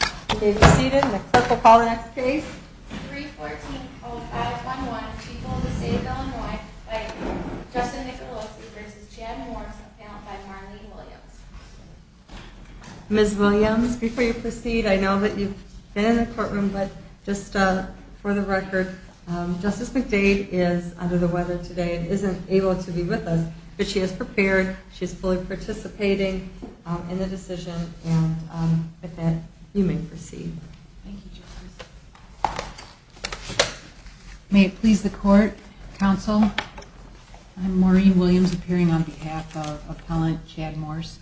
314-0511, people of the state of Illinois, by Justin Nicolosi v. Jan Morse, and found by Marlene Williams. Ms. Williams, before you proceed, I know that you've been in the courtroom, but just for the record, Justice McDade is under the weather today and isn't able to be with us, but she is prepared, she's fully participating in the decision, and with that, you may proceed. Thank you, Justice. May it please the Court, Counsel, I'm Marlene Williams, appearing on behalf of Appellant Chad Morse.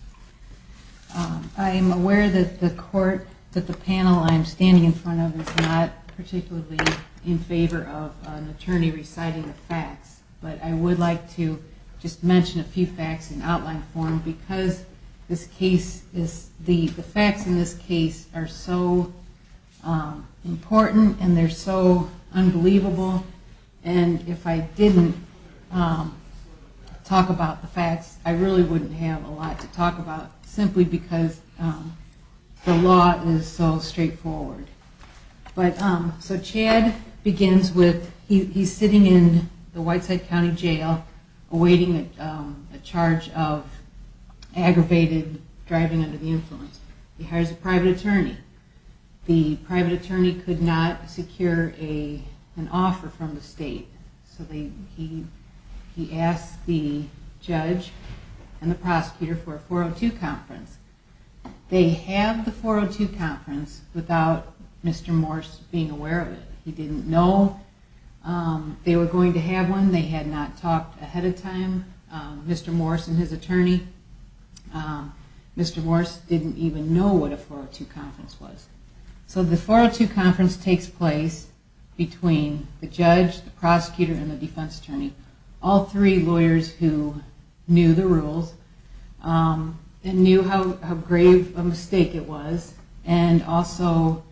I am aware that the panel I am standing in front of is not particularly in favor of an attorney reciting the facts, but I would like to just mention a few facts in outline form, because the facts in this case are so important and they're so unbelievable, and if I didn't talk about the facts, I really wouldn't have a lot to talk about, simply because the law is so straightforward. So Chad begins with, he's sitting in the Whiteside County Jail awaiting a charge of aggravated driving under the influence. He hires a private attorney. The private attorney could not secure an offer from the state, so he asks the judge and the prosecutor for a 402 conference. They have the 402 conference without Mr. Morse being aware of it. He didn't know they were going to have one. They had not talked ahead of time, Mr. Morse and his attorney. Mr. Morse didn't even know what a 402 conference was. So the 402 conference takes place between the judge, the prosecutor, and the defense attorney, all three lawyers who knew the rules and knew how grave a mistake it was, and also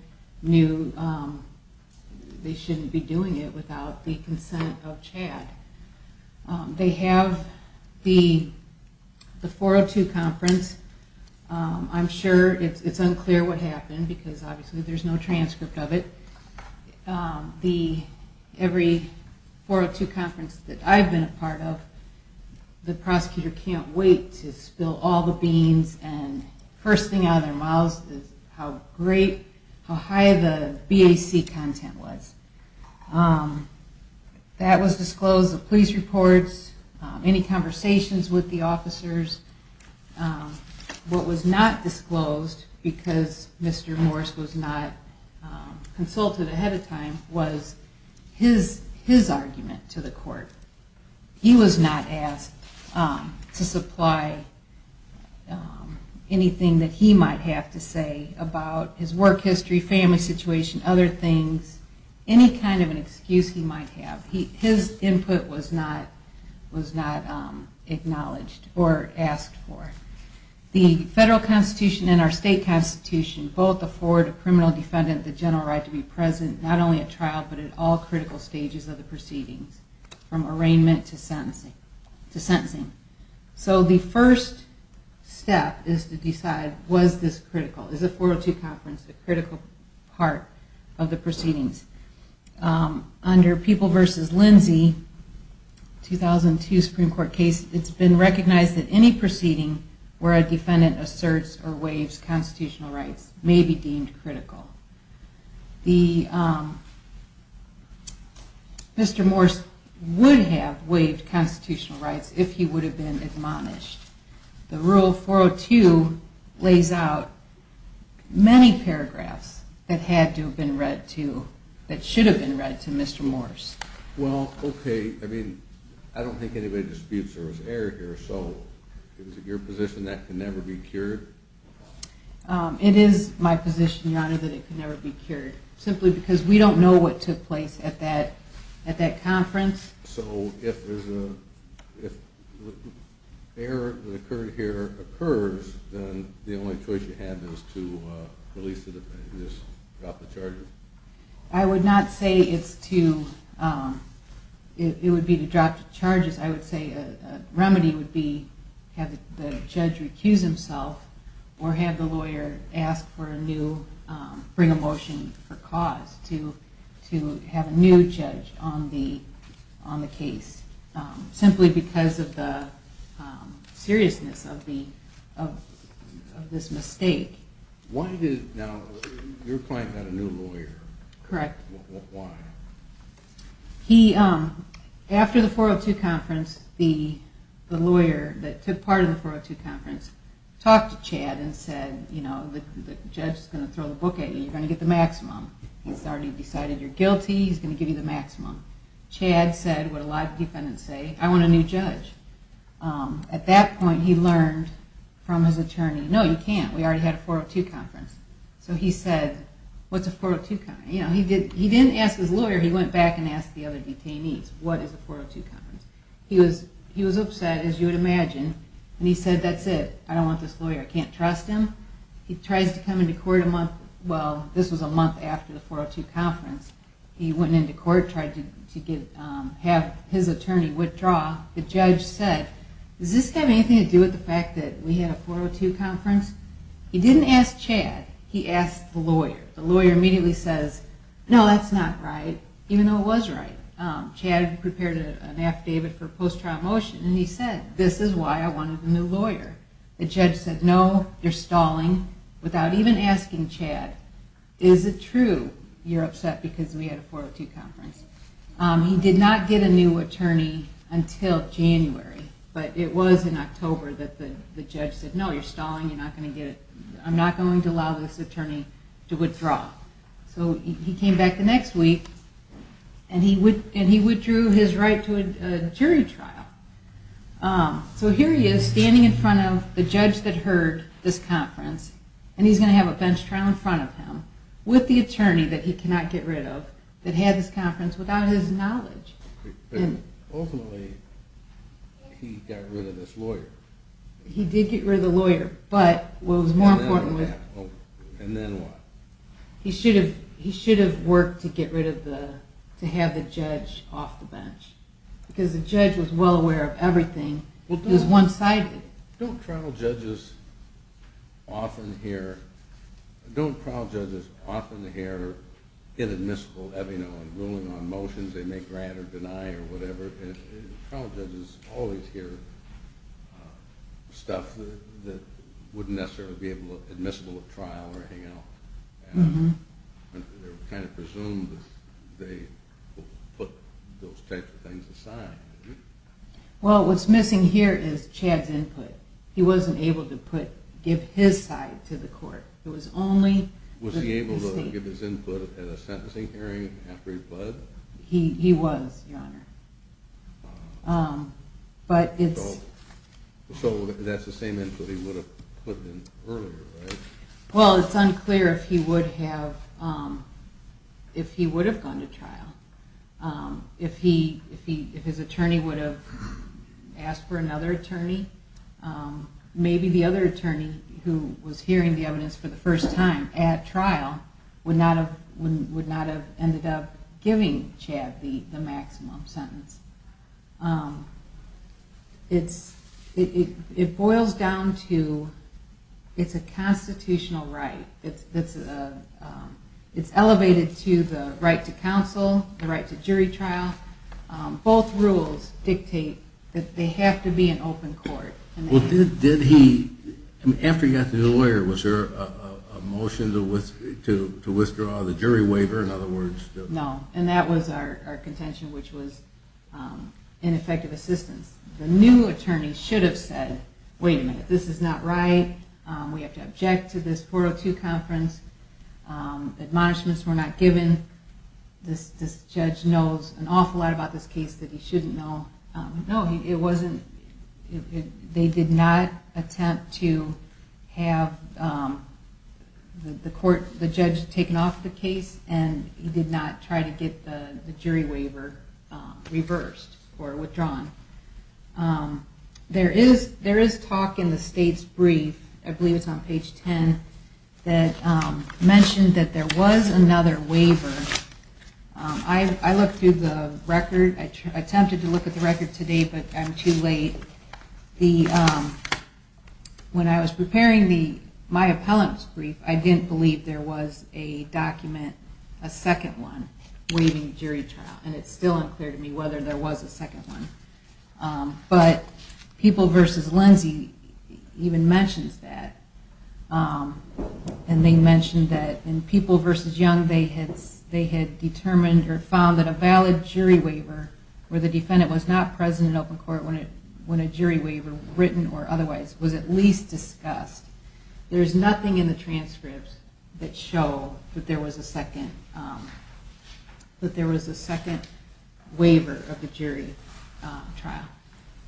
knew they shouldn't be doing it without the consent of Chad. They have the 402 conference. I'm sure it's unclear what happened, because obviously there's no transcript of it. Every 402 conference that I've been a part of, the prosecutor can't wait to spill all the beans, and the first thing out of their mouths is how great, how high the BAC content was. That was disclosed, the police reports, any conversations with the officers. What was not disclosed because Mr. Morse was not consulted ahead of time was his argument to the court. He was not asked to supply anything that he might have to say about his work history, family situation, other things, any kind of an excuse he might have. His input was not acknowledged or asked for. The federal constitution and our state constitution both afford a criminal defendant the general right to be present not only at trial, but at all critical stages of the proceedings, from arraignment to sentencing. So the first step is to decide, was this critical? Is the 402 conference a critical part of the proceedings? Under People v. Lindsey, 2002 Supreme Court case, it's been recognized that any proceeding where a defendant asserts or waives constitutional rights may be deemed critical. Mr. Morse would have waived constitutional rights if he would have been admonished. The rule 402 lays out many paragraphs that had to have been read to, that should have been read to Mr. Morse. Well, okay, I mean, I don't think anybody disputes there was error here, so is it your position that can never be cured? It is my position, Your Honor, that it can never be cured, simply because we don't know what took place at that conference. So if the error that occurred here occurs, then the only choice you have is to release the defendant, drop the charges? I would not say it's to, it would be to drop the charges, I would say a remedy would be to have the judge recuse himself or have the lawyer ask for a new, bring a motion for cause to have a new judge on the case, simply because of the seriousness of this mistake. Why did, now, your client had a new lawyer. Correct. Why? He, after the 402 conference, the lawyer that took part in the 402 conference talked to Chad and said, you know, the judge is going to throw the book at you, you're going to get the maximum. He's already decided you're guilty, he's going to give you the maximum. Chad said what a lot of defendants say, I want a new judge. At that point he learned from his attorney, no, you can't, we already had a 402 conference. So he said, what's a 402 conference? He didn't ask his lawyer, he went back and asked the other detainees, what is a 402 conference? He was upset, as you would imagine, and he said, that's it, I don't want this lawyer, I can't trust him. He tries to come into court a month, well, this was a month after the 402 conference, he went into court, tried to have his attorney withdraw. The judge said, does this have anything to do with the fact that we had a 402 conference? He didn't ask Chad, he asked the lawyer. The lawyer immediately says, no, that's not right, even though it was right. Chad prepared an affidavit for post-trial motion, and he said, this is why I wanted a new lawyer. The judge said, no, you're stalling, without even asking Chad, is it true you're upset because we had a 402 conference? He did not get a new attorney until January, but it was in October that the judge said, no, you're stalling, I'm not going to allow this attorney to withdraw. So he came back the next week, and he withdrew his right to a jury trial. So here he is, standing in front of the judge that heard this conference, and he's going to have a bench trial in front of him, with the attorney that he cannot get rid of, that had this conference without his knowledge. Ultimately, he got rid of this lawyer. He did get rid of the lawyer, but what was more important was... And then what? He should have worked to get rid of the, to have the judge off the bench, because the judge was well aware of everything, it was one-sided. Don't trial judges often hear inadmissible, ruling on motions they may grant or deny or whatever? Trial judges always hear stuff that wouldn't necessarily be admissible at trial or hangout. They're kind of presumed that they put those types of things aside. Well, what's missing here is Chad's input. He wasn't able to give his side to the court. Was he able to give his input at a sentencing hearing after he pled? He was, Your Honor. So that's the same input he would have put in earlier, right? Well, it's unclear if he would have gone to trial, if his attorney would have asked for another attorney. Maybe the other attorney who was hearing the evidence for the first time at trial would not have ended up giving Chad the maximum sentence. It boils down to, it's a constitutional right. It's elevated to the right to counsel, the right to jury trial. Both rules dictate that they have to be an open court. Well, did he, after he got the lawyer, was there a motion to withdraw the jury waiver? No, and that was our contention, which was ineffective assistance. The new attorney should have said, wait a minute, this is not right. We have to object to this 402 conference. Admonishments were not given. This judge knows an awful lot about this case that he shouldn't know. No, it wasn't. They did not attempt to have the judge taken off the case and he did not try to get the jury waiver reversed or withdrawn. There is talk in the state's brief, I believe it's on page 10, that mentioned that there was another waiver. I looked through the record. I attempted to look at the record today, but I'm too late. When I was preparing my appellant's brief, I didn't believe there was a document, a second one, waiving jury trial. And it's still unclear to me whether there was a second one. But People v. Lindsey even mentions that. And they mentioned that in People v. Young, they had determined or found that a valid jury waiver, where the defendant was not present in open court when a jury waiver, written or otherwise, was at least discussed. There is nothing in the transcripts that show that there was a second waiver of the jury trial.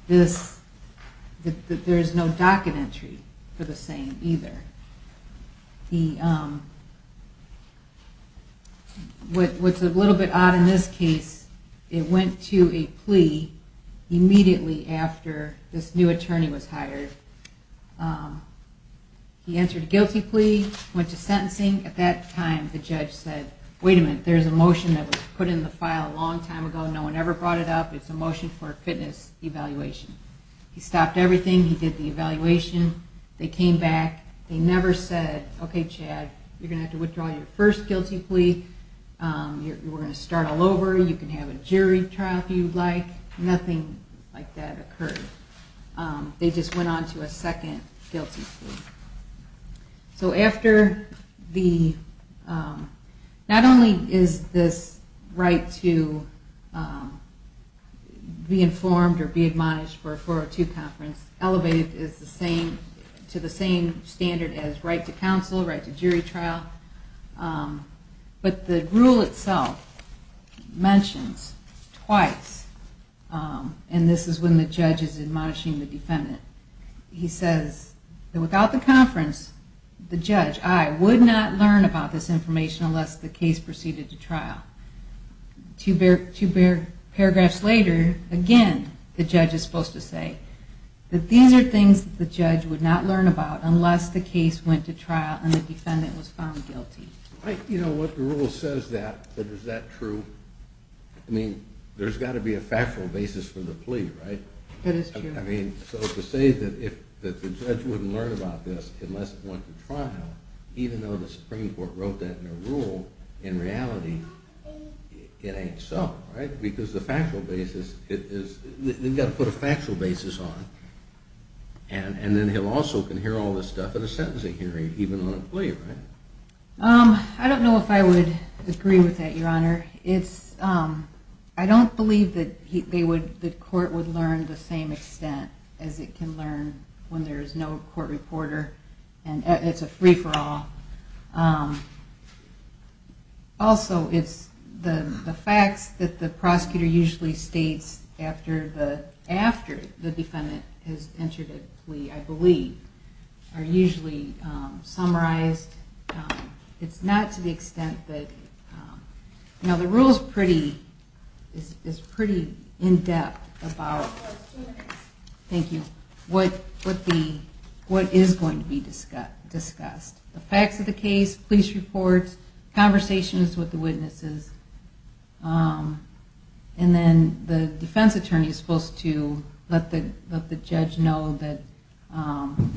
There is no docket entry for the same either. What's a little bit odd in this case, it went to a plea immediately after this new attorney was hired. He answered a guilty plea, went to sentencing. At that time, the judge said, wait a minute, there's a motion that was put in the file a long time ago. No one ever brought it up. It's a motion for a fitness evaluation. He stopped everything. He did the evaluation. They came back. They never said, okay, Chad, you're going to have to withdraw your first guilty plea. You're going to start all over. You can have a jury trial if you'd like. Nothing like that occurred. They just went on to a second guilty plea. Not only is this right to be informed or be admonished for a 402 conference elevated to the same standard as right to counsel, right to jury trial, but the rule itself mentions twice, and this is when the judge is admonishing the defendant. He says that without the conference, the judge, I, would not learn about this information unless the case proceeded to trial. Two paragraphs later, again, the judge is supposed to say that these are things that the judge would not learn about unless the case went to trial and the defendant was found guilty. You know what, the rule says that, but is that true? I mean, there's got to be a factual basis for the plea, right? That is true. I mean, so to say that the judge wouldn't learn about this unless it went to trial, even though the Supreme Court wrote that in a rule, in reality, it ain't so, right? Because the factual basis, they've got to put a factual basis on it. And then he'll also hear all this stuff at a sentencing hearing, even on a plea, right? I don't know if I would agree with that, Your Honor. I don't believe that the court would learn the same extent as it can learn when there is no court reporter and it's a free-for-all. Also, it's the facts that the prosecutor usually states after the defendant has entered a plea, I believe, are usually summarized. It's not to the extent that, you know, the rule is pretty in-depth about what is going to be discussed. The facts of the case, police reports, conversations with the witnesses. And then the defense attorney is supposed to let the judge know that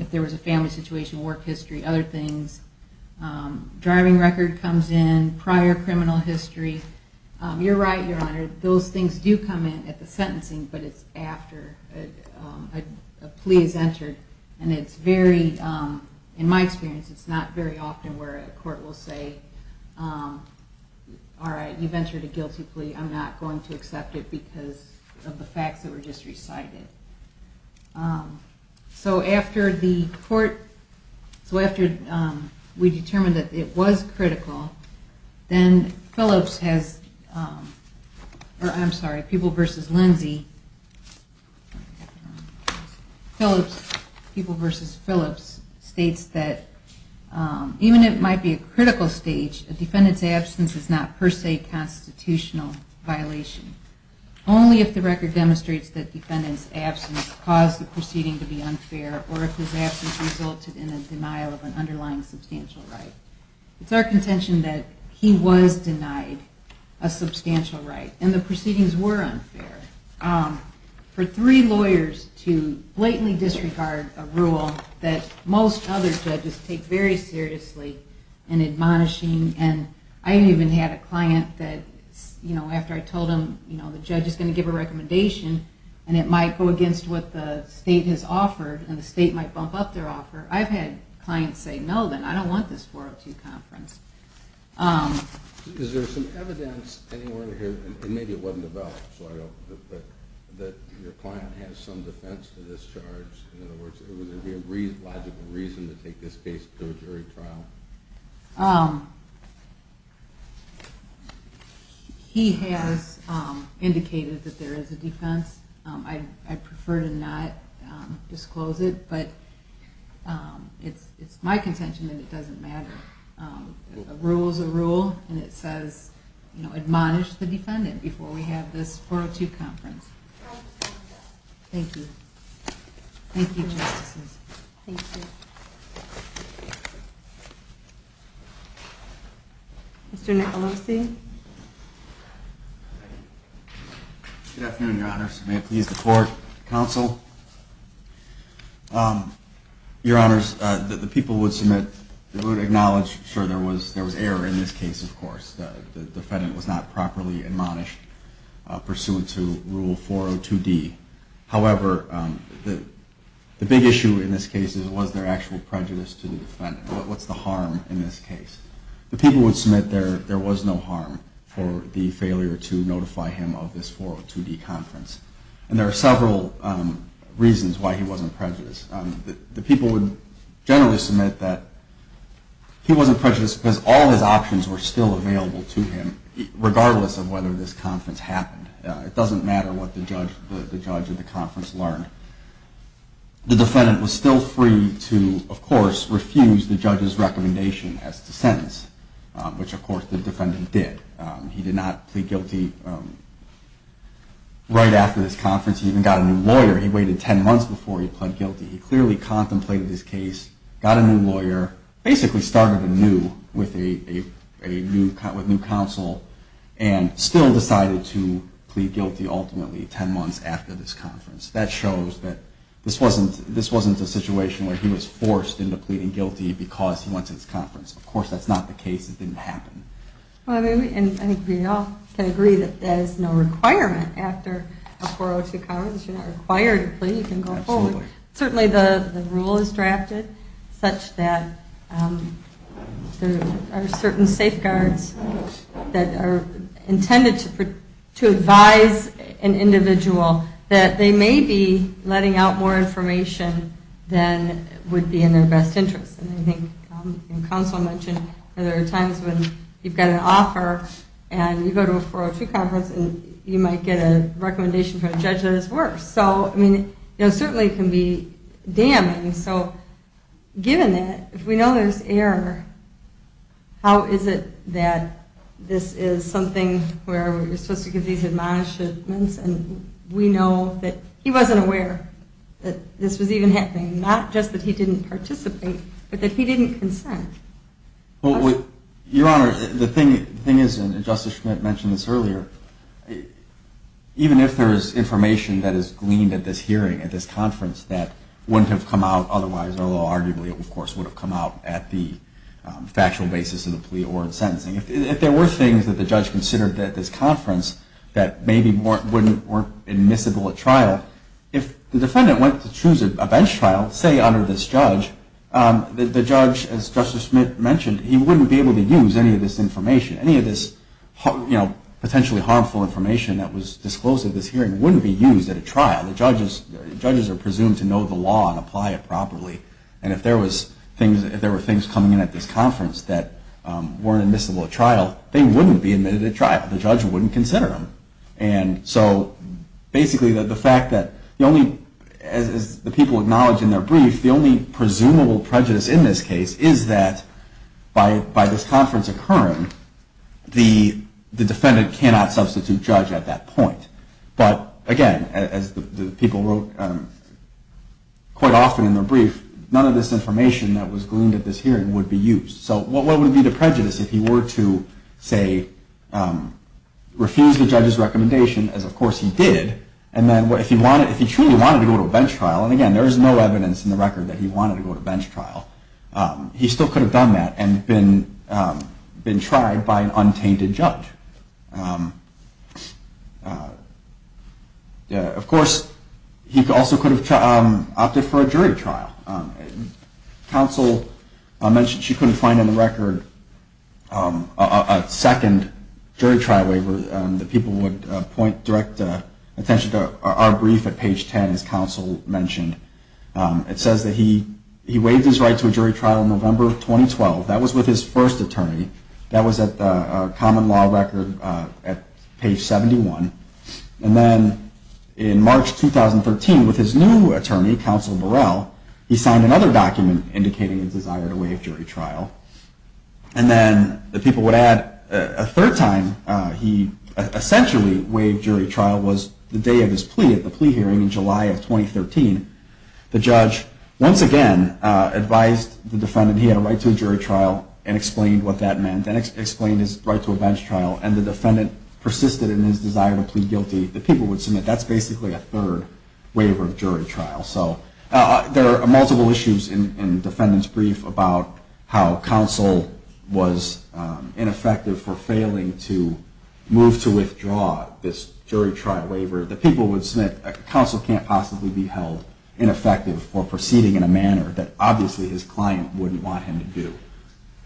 if there was a family situation, work history, other things. Driving record comes in, prior criminal history. You're right, Your Honor, those things do come in at the sentencing, but it's after a plea is entered. And in my experience, it's not very often where a court will say, alright, you've entered a guilty plea, I'm not going to accept it because of the facts that were just recited. So after we determined that it was critical, then Phillips has, I'm sorry, People v. Lindsay, Phillips, People v. Phillips states that even if it might be a critical stage, a defendant's absence is not per se a constitutional violation. Only if the record demonstrates that the defendant's absence caused the proceeding to be unfair or if his absence resulted in a denial of an underlying substantial right. It's our contention that he was denied a substantial right and the proceedings were unfair. For three lawyers to blatantly disregard a rule that most other judges take very seriously and admonishing, and I even had a client that, you know, after I told him, you know, the judge is going to give a recommendation and it might go against what the state has offered and the state might bump up their offer, I've had clients say, no, then I don't want this 402 conference. Is there some evidence anywhere here, and maybe it wasn't developed, that your client has some defense to this charge? In other words, would there be a logical reason to take this case to a jury trial? No. He has indicated that there is a defense. I prefer to not disclose it, but it's my contention that it doesn't matter. A rule is a rule, and it says, you know, admonish the defendant before we have this 402 conference. Thank you. Thank you, Justices. Mr. Nicolosi? Good afternoon, Your Honors. May it please the Court, Counsel. Your Honors, the people would acknowledge, sure, there was error in this case, of course. The defendant was not properly admonished pursuant to Rule 402D. However, the big issue in this case was their actual prejudice to the defendant. What's the harm in this case? The people would submit there was no harm for the failure to notify him of this 402D conference, and there are several reasons why he wasn't prejudiced. The people would generally submit that he wasn't prejudiced because all his options were still available to him, regardless of whether this conference happened. It doesn't matter what the judge of the conference learned. However, the defendant was still free to, of course, refuse the judge's recommendation as to sentence, which of course the defendant did. He did not plead guilty right after this conference. He even got a new lawyer. He waited 10 months before he pled guilty. He clearly contemplated this case, got a new lawyer, basically started anew with a new counsel, and still decided to plead guilty ultimately 10 months after this conference. That shows that this wasn't a situation where he was forced into pleading guilty because he went to this conference. Of course, that's not the case. It didn't happen. I think we all can agree that there's no requirement after a 402 conference. You're not required to plead. You can go forward. Certainly the rule is drafted such that there are certain safeguards that are intended to advise an individual that they may be letting out more information than would be in their best interest. I think counsel mentioned there are times when you've got an offer and you go to a 402 conference and you might get a recommendation from a judge that is worse. Certainly it can be damning. Given that, if we know there's error, how is it that this is something where we're supposed to give these admonishments and we know that he wasn't aware that this was even happening, not just that he didn't participate, but that he didn't consent? Your Honor, the thing is, and Justice Schmidt mentioned this earlier, even if there is information that is gleaned at this hearing, at this conference, that wouldn't have come out otherwise, although arguably it, of course, would have come out at the factual basis of the plea or in sentencing. If there were things that the judge considered at this conference that maybe weren't admissible at trial, if the defendant went to choose a bench trial, say under this judge, the judge, as Justice Schmidt mentioned, he wouldn't be able to use any of this information, any of this potentially harmful information that was disclosed at this hearing wouldn't be used at a trial. The judges are presumed to know the law and apply it properly. And if there were things coming in at this conference that weren't admissible at trial, they wouldn't be admitted at trial. The judge wouldn't consider them. And so basically the fact that the only, as the people acknowledge in their brief, the only presumable prejudice in this case is that by this conference occurring, the defendant cannot substitute judge at that point. But again, as the people wrote quite often in their brief, none of this information that was gleaned at this hearing would be used. So what would be the prejudice if he were to, say, refuse the judge's recommendation, as of course he did, and then if he truly wanted to go to a bench trial, and again, there is no evidence in the record that he wanted to go to a bench trial, he still could have done that and been tried by an untainted judge. Of course, he also could have opted for a jury trial. Counsel mentioned she couldn't find in the record a second jury trial waiver that people would point direct attention to our brief at page 10, as counsel mentioned. It says that he waived his right to a jury trial in November 2012. That was with his first attorney. That was at the common law record at page 71. And then in March 2013, with his new attorney, Counsel Burrell, he signed another document indicating his desire to waive jury trial. And then the people would add a third time he essentially waived jury trial was the day of his plea at the plea hearing in July of 2013. The judge, once again, advised the defendant he had a right to a jury trial and explained what that meant and explained his right to a bench trial. And the defendant persisted in his desire to plead guilty. The people would submit that's basically a third waiver of jury trial. So there are multiple issues in the defendant's brief about how counsel was ineffective for failing to move to withdraw this jury trial waiver. The people would submit counsel can't possibly be held ineffective for proceeding in a manner that obviously his client wouldn't want him to do.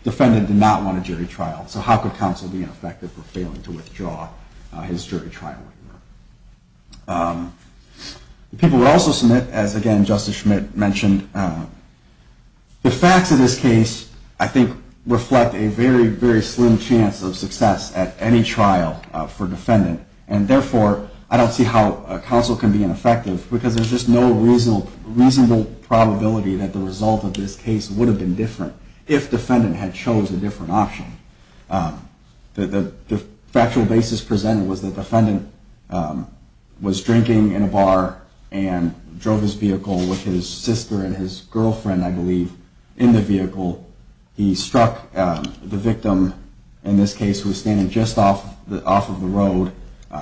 The defendant did not want a jury trial. So how could counsel be ineffective for failing to withdraw his jury trial waiver? The people would also submit, as again Justice Schmidt mentioned, the facts of this case I think reflect a very, very slim chance of success at any trial for defendant. And therefore, I don't see how counsel can be ineffective because there's just no reasonable probability that the result of this case would have been different if defendant had chose a different option. The factual basis presented was the defendant was drinking in a bar and drove his vehicle with his sister and his girlfriend, I believe, in the vehicle. He struck the victim in this case who was standing just off of the road,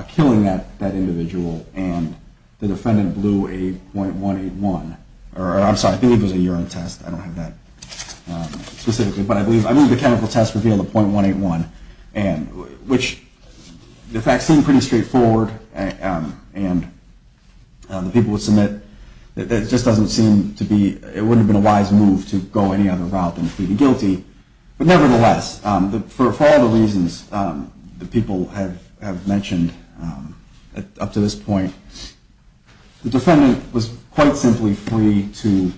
killing that individual. And the defendant blew a .181, or I'm sorry, I believe it was a urine test. I don't have that specifically. But I believe the chemical test revealed a .181, which the facts seem pretty straightforward. And the people would submit that it just doesn't seem to be, it wouldn't have been a wise move to go any other route than plead guilty. But nevertheless, for all the reasons the people have mentioned up to this point, the defendant was quite simply free to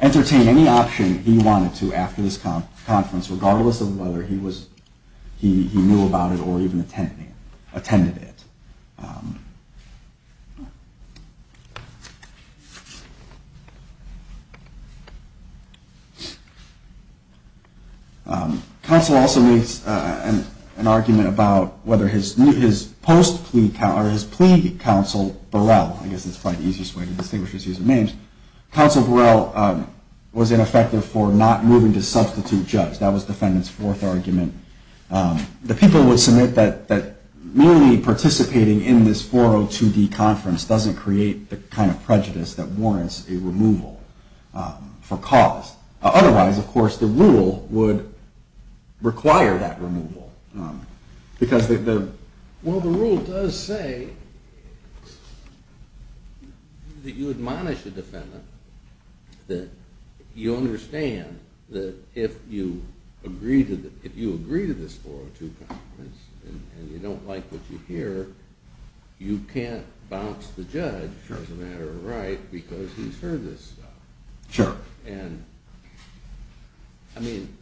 entertain any option he wanted to after this conference, regardless of whether he knew about it or even attended it. Counsel also makes an argument about whether his plea counsel Burrell, I guess that's probably the easiest way to distinguish his use of names, counsel Burrell was ineffective for not moving to substitute judge. That was the defendant's fourth argument. The people would submit that merely participating in this 402D conference doesn't create the kind of prejudice that warrants a removal for cause. Otherwise, of course, the rule would require that removal. Well, the rule does say that you admonish a defendant, that you understand that if you agree to this 402 conference and you don't like what you hear, you can't bounce the judge as a matter of right because he's heard this stuff. Sure. I mean,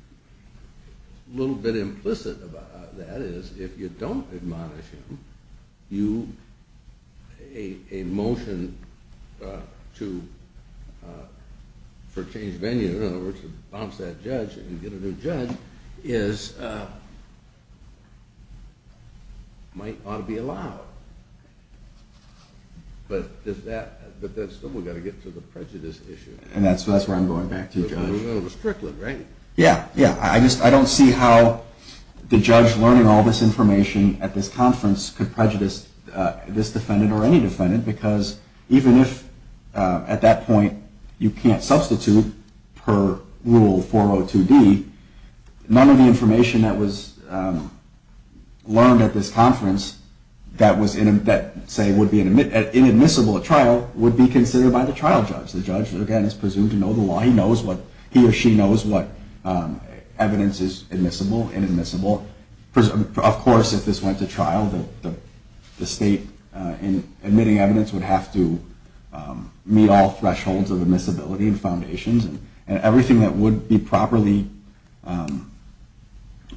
a little bit implicit about that is if you don't admonish him, a motion for change of venue, in other words to bounce that judge and get a new judge, might ought to be allowed. But that's still got to get to the prejudice issue. And that's where I'm going back to, Judge. A little strickling, right? Yeah, yeah. I just don't see how the judge learning all this information at this conference could prejudice this defendant or any defendant because even if at that point you can't substitute per rule 402D, none of the information that was learned at this conference that would be inadmissible at trial would be considered by the trial judge. The judge, again, is presumed to know the law. He or she knows what evidence is admissible, inadmissible. Of course, if this went to trial, the state admitting evidence would have to meet all thresholds of admissibility and foundations. And everything that would be properly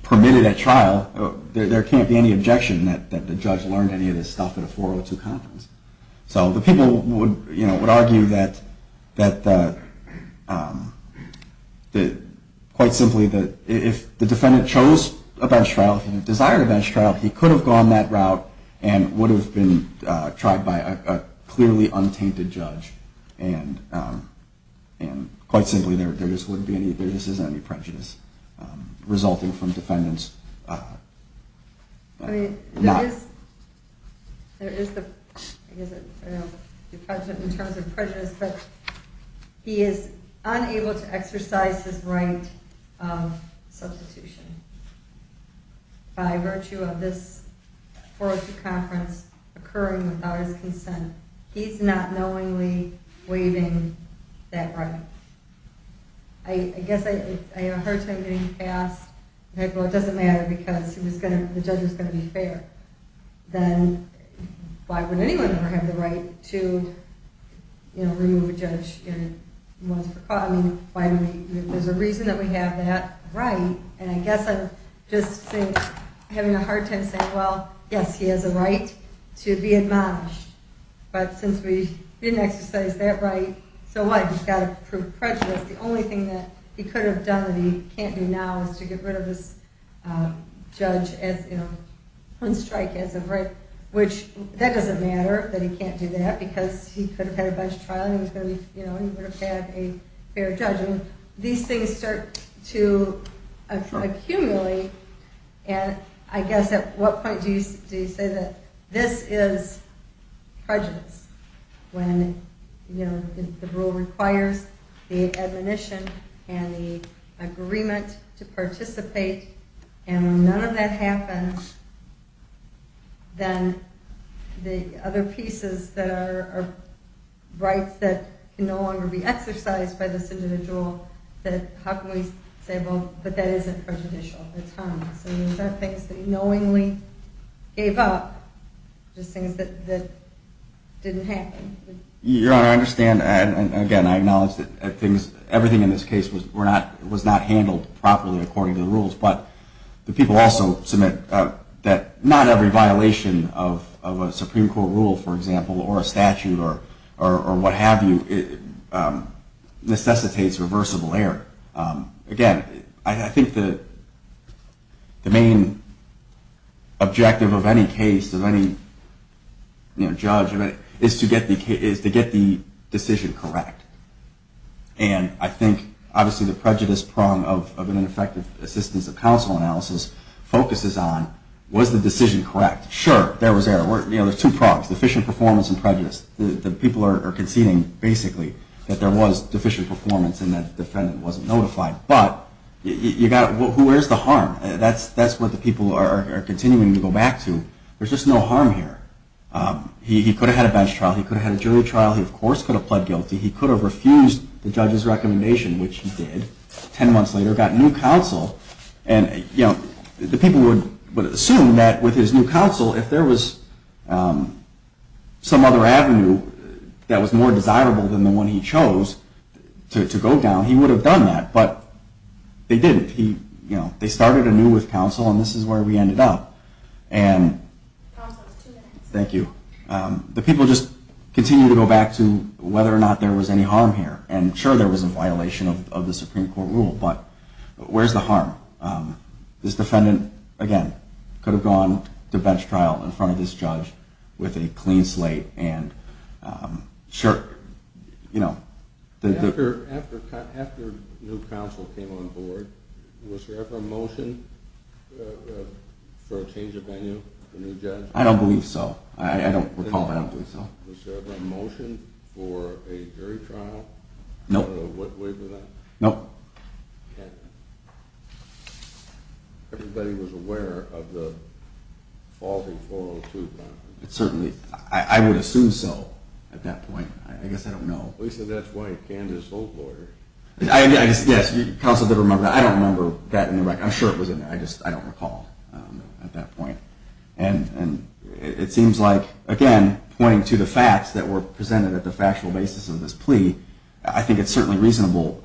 permitted at trial, there can't be any objection that the judge learned any of this stuff at a 402 conference. So the people would argue that quite simply, if the defendant chose a bench trial, desired a bench trial, he could have gone that route and would have been tried by a clearly untainted judge. And quite simply, there just isn't any prejudice resulting from defendants not... There is the prejudice in terms of prejudice, but he is unable to exercise his right of substitution. By virtue of this 402 conference occurring without his consent, he's not knowingly waiving that right. I guess I have a hard time getting past, well, it doesn't matter because the judge was going to be fair. Then why would anyone ever have the right to remove a judge once for cause? There's a reason that we have that right, and I guess I'm just having a hard time saying, well, yes, he has a right to be admonished. But since we didn't exercise that right, so what? He's got to prove prejudice. The only thing that he could have done that he can't do now is to get rid of this judge on strike as of right. Which, that doesn't matter that he can't do that, because he could have had a bench trial and he would have had a fair judgment. When these things start to accumulate, I guess at what point do you say that this is prejudice? When the rule requires the admonition and the agreement to participate, and when none of that happens, then the other pieces that are rights that can no longer be exercised by this individual, that how can we say, well, but that isn't prejudicial, it's harmless. Those are things that he knowingly gave up, just things that didn't happen. Your Honor, I understand, and again, I acknowledge that everything in this case was not handled properly according to the rules, but the people also submit that not every violation of a Supreme Court rule, for example, or a statute, or what have you, necessitates reversible error. Again, I think the main objective of any case, of any judge, is to get the decision correct. And I think, obviously, the prejudice prong of an effective assistance of counsel analysis focuses on, was the decision correct? Sure, there was error. You know, there's two prongs, deficient performance and prejudice. The people are conceding, basically, that there was deficient performance and that the defendant wasn't notified. But, who wears the harm? That's what the people are continuing to go back to. There's just no harm here. He could have had a bench trial. He could have had a jury trial. He, of course, could have pled guilty. He could have refused the judge's recommendation, which he did. Ten months later, got new counsel. And, you know, the people would assume that with his new counsel, if there was some other avenue that was more desirable than the one he chose to go down, he would have done that. But they didn't. You know, they started anew with counsel, and this is where we ended up. Thank you. The people just continue to go back to whether or not there was any harm here. And, sure, there was a violation of the Supreme Court rule, but where's the harm? This defendant, again, could have gone to bench trial in front of this judge with a clean slate and, sure, you know. After new counsel came on board, was there ever a motion for a change of venue for a new judge? I don't believe so. I don't recall, but I don't believe so. Was there ever a motion for a jury trial? Nope. Wait for that? Nope. Okay. Everybody was aware of the faulty 402, right? Certainly. I would assume so at that point. I guess I don't know. At least that's why you can't just hold lawyers. Yes, counsel did remember that. I don't remember that. I'm sure it was in there. I just don't recall at that point. And it seems like, again, pointing to the facts that were presented at the factual basis of this plea, I think it's certainly reasonable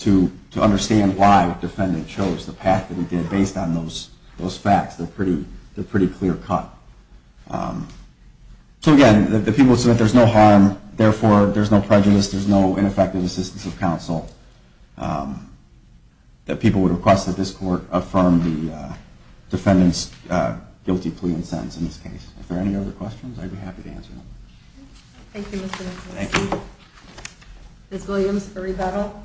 to understand why the defendant chose the path that he did based on those facts. They're a pretty clear cut. So, again, the people said that there's no harm, therefore there's no prejudice, there's no ineffective assistance of counsel. That people would request that this court affirm the defendant's guilty plea and sentence in this case. If there are any other questions, I'd be happy to answer them. Thank you, Mr. Nicholas. Thank you. Ms. Williams for rebuttal.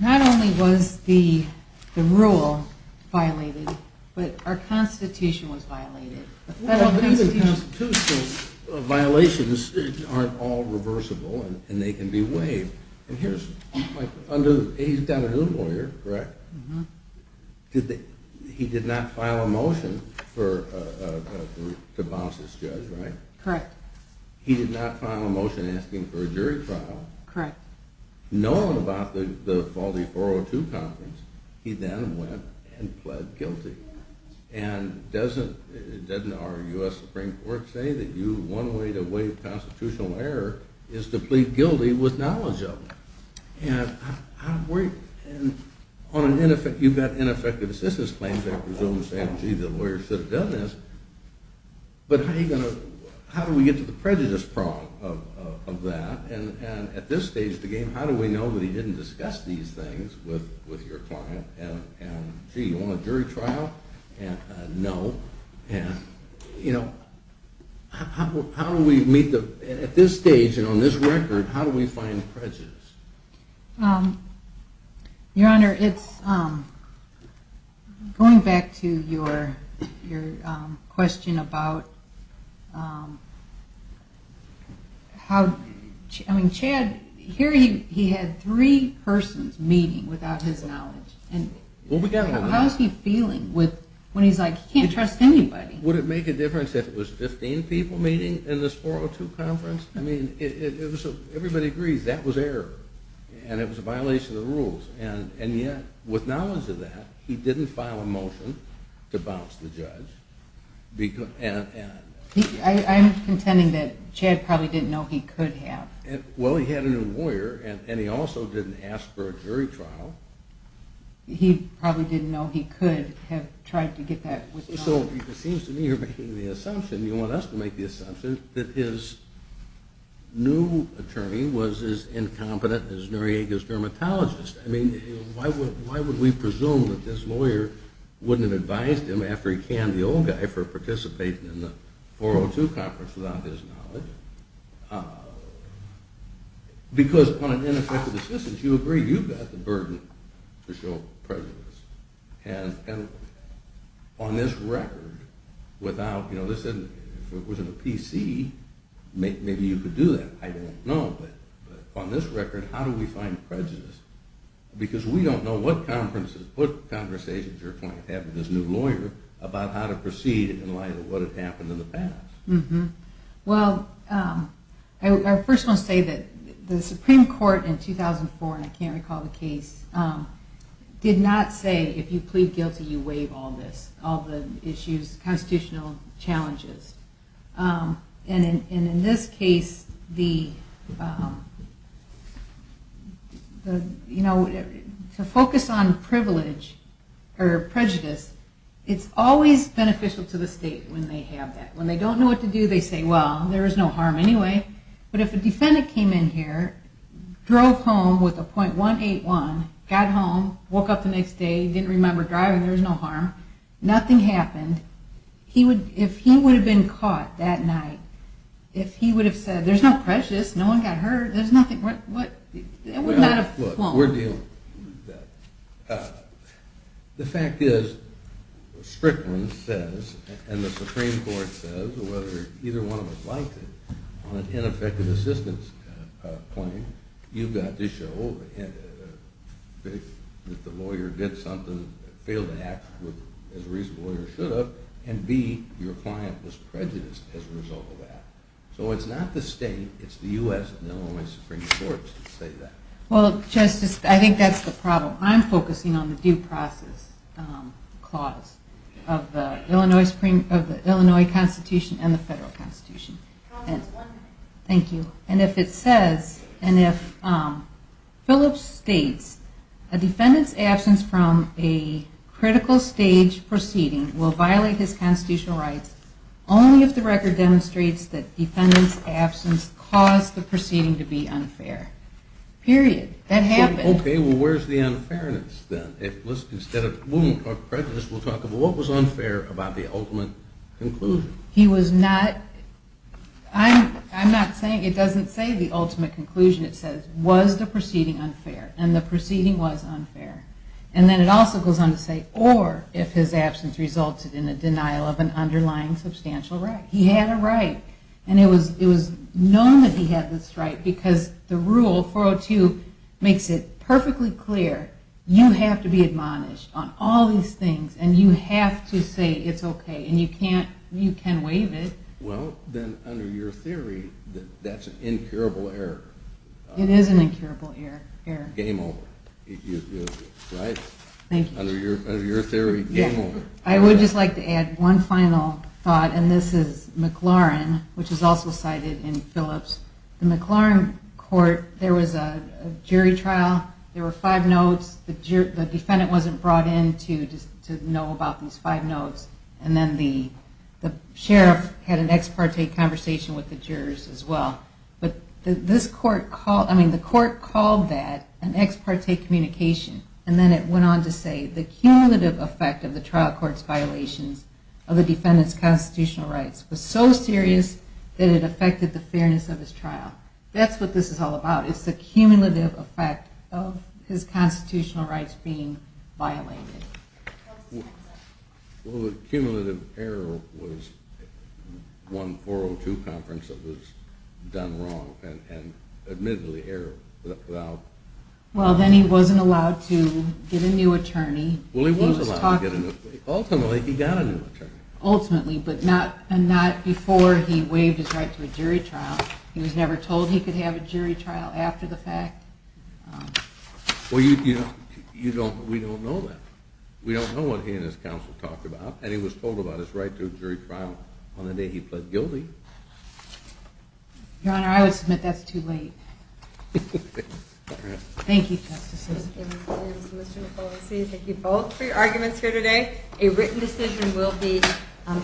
Not only was the rule violated, but our Constitution was violated. Well, even Constitutional violations aren't all reversible and they can be waived. And here's my point. He's got a new lawyer, correct? Uh-huh. He did not file a motion to bounce this judge, right? Correct. He did not file a motion asking for a jury trial. Correct. Knowing about the faulty 402 conference, he then went and pled guilty. And doesn't our U.S. Supreme Court say that one way to waive constitutional error is to plead guilty with knowledge of it? And you've got ineffective assistance claims, I presume, saying, gee, the lawyer should have done this. But how do we get to the prejudice prong of that? And at this stage of the game, how do we know that he didn't discuss these things with your client? And, gee, you want a jury trial? No. And, you know, how do we meet the ñ at this stage and on this record, how do we find prejudice? Your Honor, it's ñ going back to your question about how ñ I mean, Chad, here he had three persons meeting without his knowledge. How is he feeling when he's like, he can't trust anybody? Would it make a difference if it was 15 people meeting in this 402 conference? I mean, it was ñ everybody agrees that was error. And it was a violation of the rules. And yet, with knowledge of that, he didn't file a motion to bounce the judge. I'm contending that Chad probably didn't know he could have. Well, he had a new lawyer, and he also didn't ask for a jury trial. He probably didn't know he could have tried to get that. So it seems to me you're making the assumption, you want us to make the assumption, that his new attorney was as incompetent as Noriega's dermatologist. I mean, why would we presume that this lawyer wouldn't have advised him, after he canned the old guy, for participating in the 402 conference without his knowledge? Because on an ineffective assistance, you agree you've got the burden to show prejudice. And on this record, without ñ you know, this isn't ñ if it was in a PC, maybe you could do that. I don't know, but on this record, how do we find prejudice? Because we don't know what conversations your client had with his new lawyer about how to proceed in light of what had happened in the past. Well, I first want to say that the Supreme Court in 2004, and I can't recall the case, did not say if you plead guilty, you waive all this, all the issues, constitutional challenges. And in this case, the ñ you know, to focus on privilege or prejudice, it's always beneficial to the state when they have that. When they don't know what to do, they say, well, there is no harm anyway. But if a defendant came in here, drove home with a .181, got home, woke up the next day, didn't remember driving, there was no harm, nothing happened, if he would have been caught that night, if he would have said, there's no prejudice, no one got hurt, there's nothing ñ it would not have flown. Look, we're dealing with that. The fact is, Strickland says, and the Supreme Court says, whether either one of us liked it on an ineffective assistance claim, you've got to show that the lawyer did something, failed to act as a reasonable lawyer should have, and B, your client was prejudiced as a result of that. So it's not the state, it's the U.S. and Illinois Supreme Courts that say that. Well, Justice, I think that's the problem. I'm focusing on the due process clause of the Illinois Constitution and the federal Constitution. Thank you. And if it says, and if Phillips states, a defendant's absence from a critical stage proceeding will violate his constitutional rights only if the record demonstrates that defendant's absence caused the proceeding to be unfair. Period. That happened. Okay, well, where's the unfairness then? Instead of prejudice, we'll talk about what was unfair about the ultimate conclusion. He was not, I'm not saying, it doesn't say the ultimate conclusion. It says, was the proceeding unfair? And the proceeding was unfair. And then it also goes on to say, or if his absence resulted in a denial of an underlying substantial right. He had a right, and it was known that he had this right, because the rule, 402, makes it perfectly clear. You have to be admonished on all these things, and you have to say it's okay, and you can't, you can waive it. Well, then under your theory, that's an incurable error. It is an incurable error. Game over. Right? Thank you. Under your theory, game over. I would just like to add one final thought, and this is McLaurin, which is also cited in Phillips. In the McLaurin court, there was a jury trial. There were five notes. The defendant wasn't brought in to know about these five notes. And then the sheriff had an ex parte conversation with the jurors as well. But this court called, I mean, the court called that an ex parte communication. And then it went on to say, the cumulative effect of the trial court's violations of the defendant's constitutional rights was so serious that it affected the fairness of his trial. That's what this is all about. It's the cumulative effect of his constitutional rights being violated. Well, the cumulative error was one 402 conference that was done wrong and admittedly error. Well, then he wasn't allowed to get a new attorney. Well, he was allowed to get a new attorney. Ultimately, he got a new attorney. Ultimately, but not before he waived his right to a jury trial. He was never told he could have a jury trial after the fact. Well, we don't know that. We don't know what he and his counsel talked about. And he was told about his right to a jury trial on the day he pled guilty. Your Honor, I would submit that's too late. Thank you, Justice Sotomayor. Thank you both for your arguments here today. A written decision will be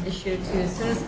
issued to assist.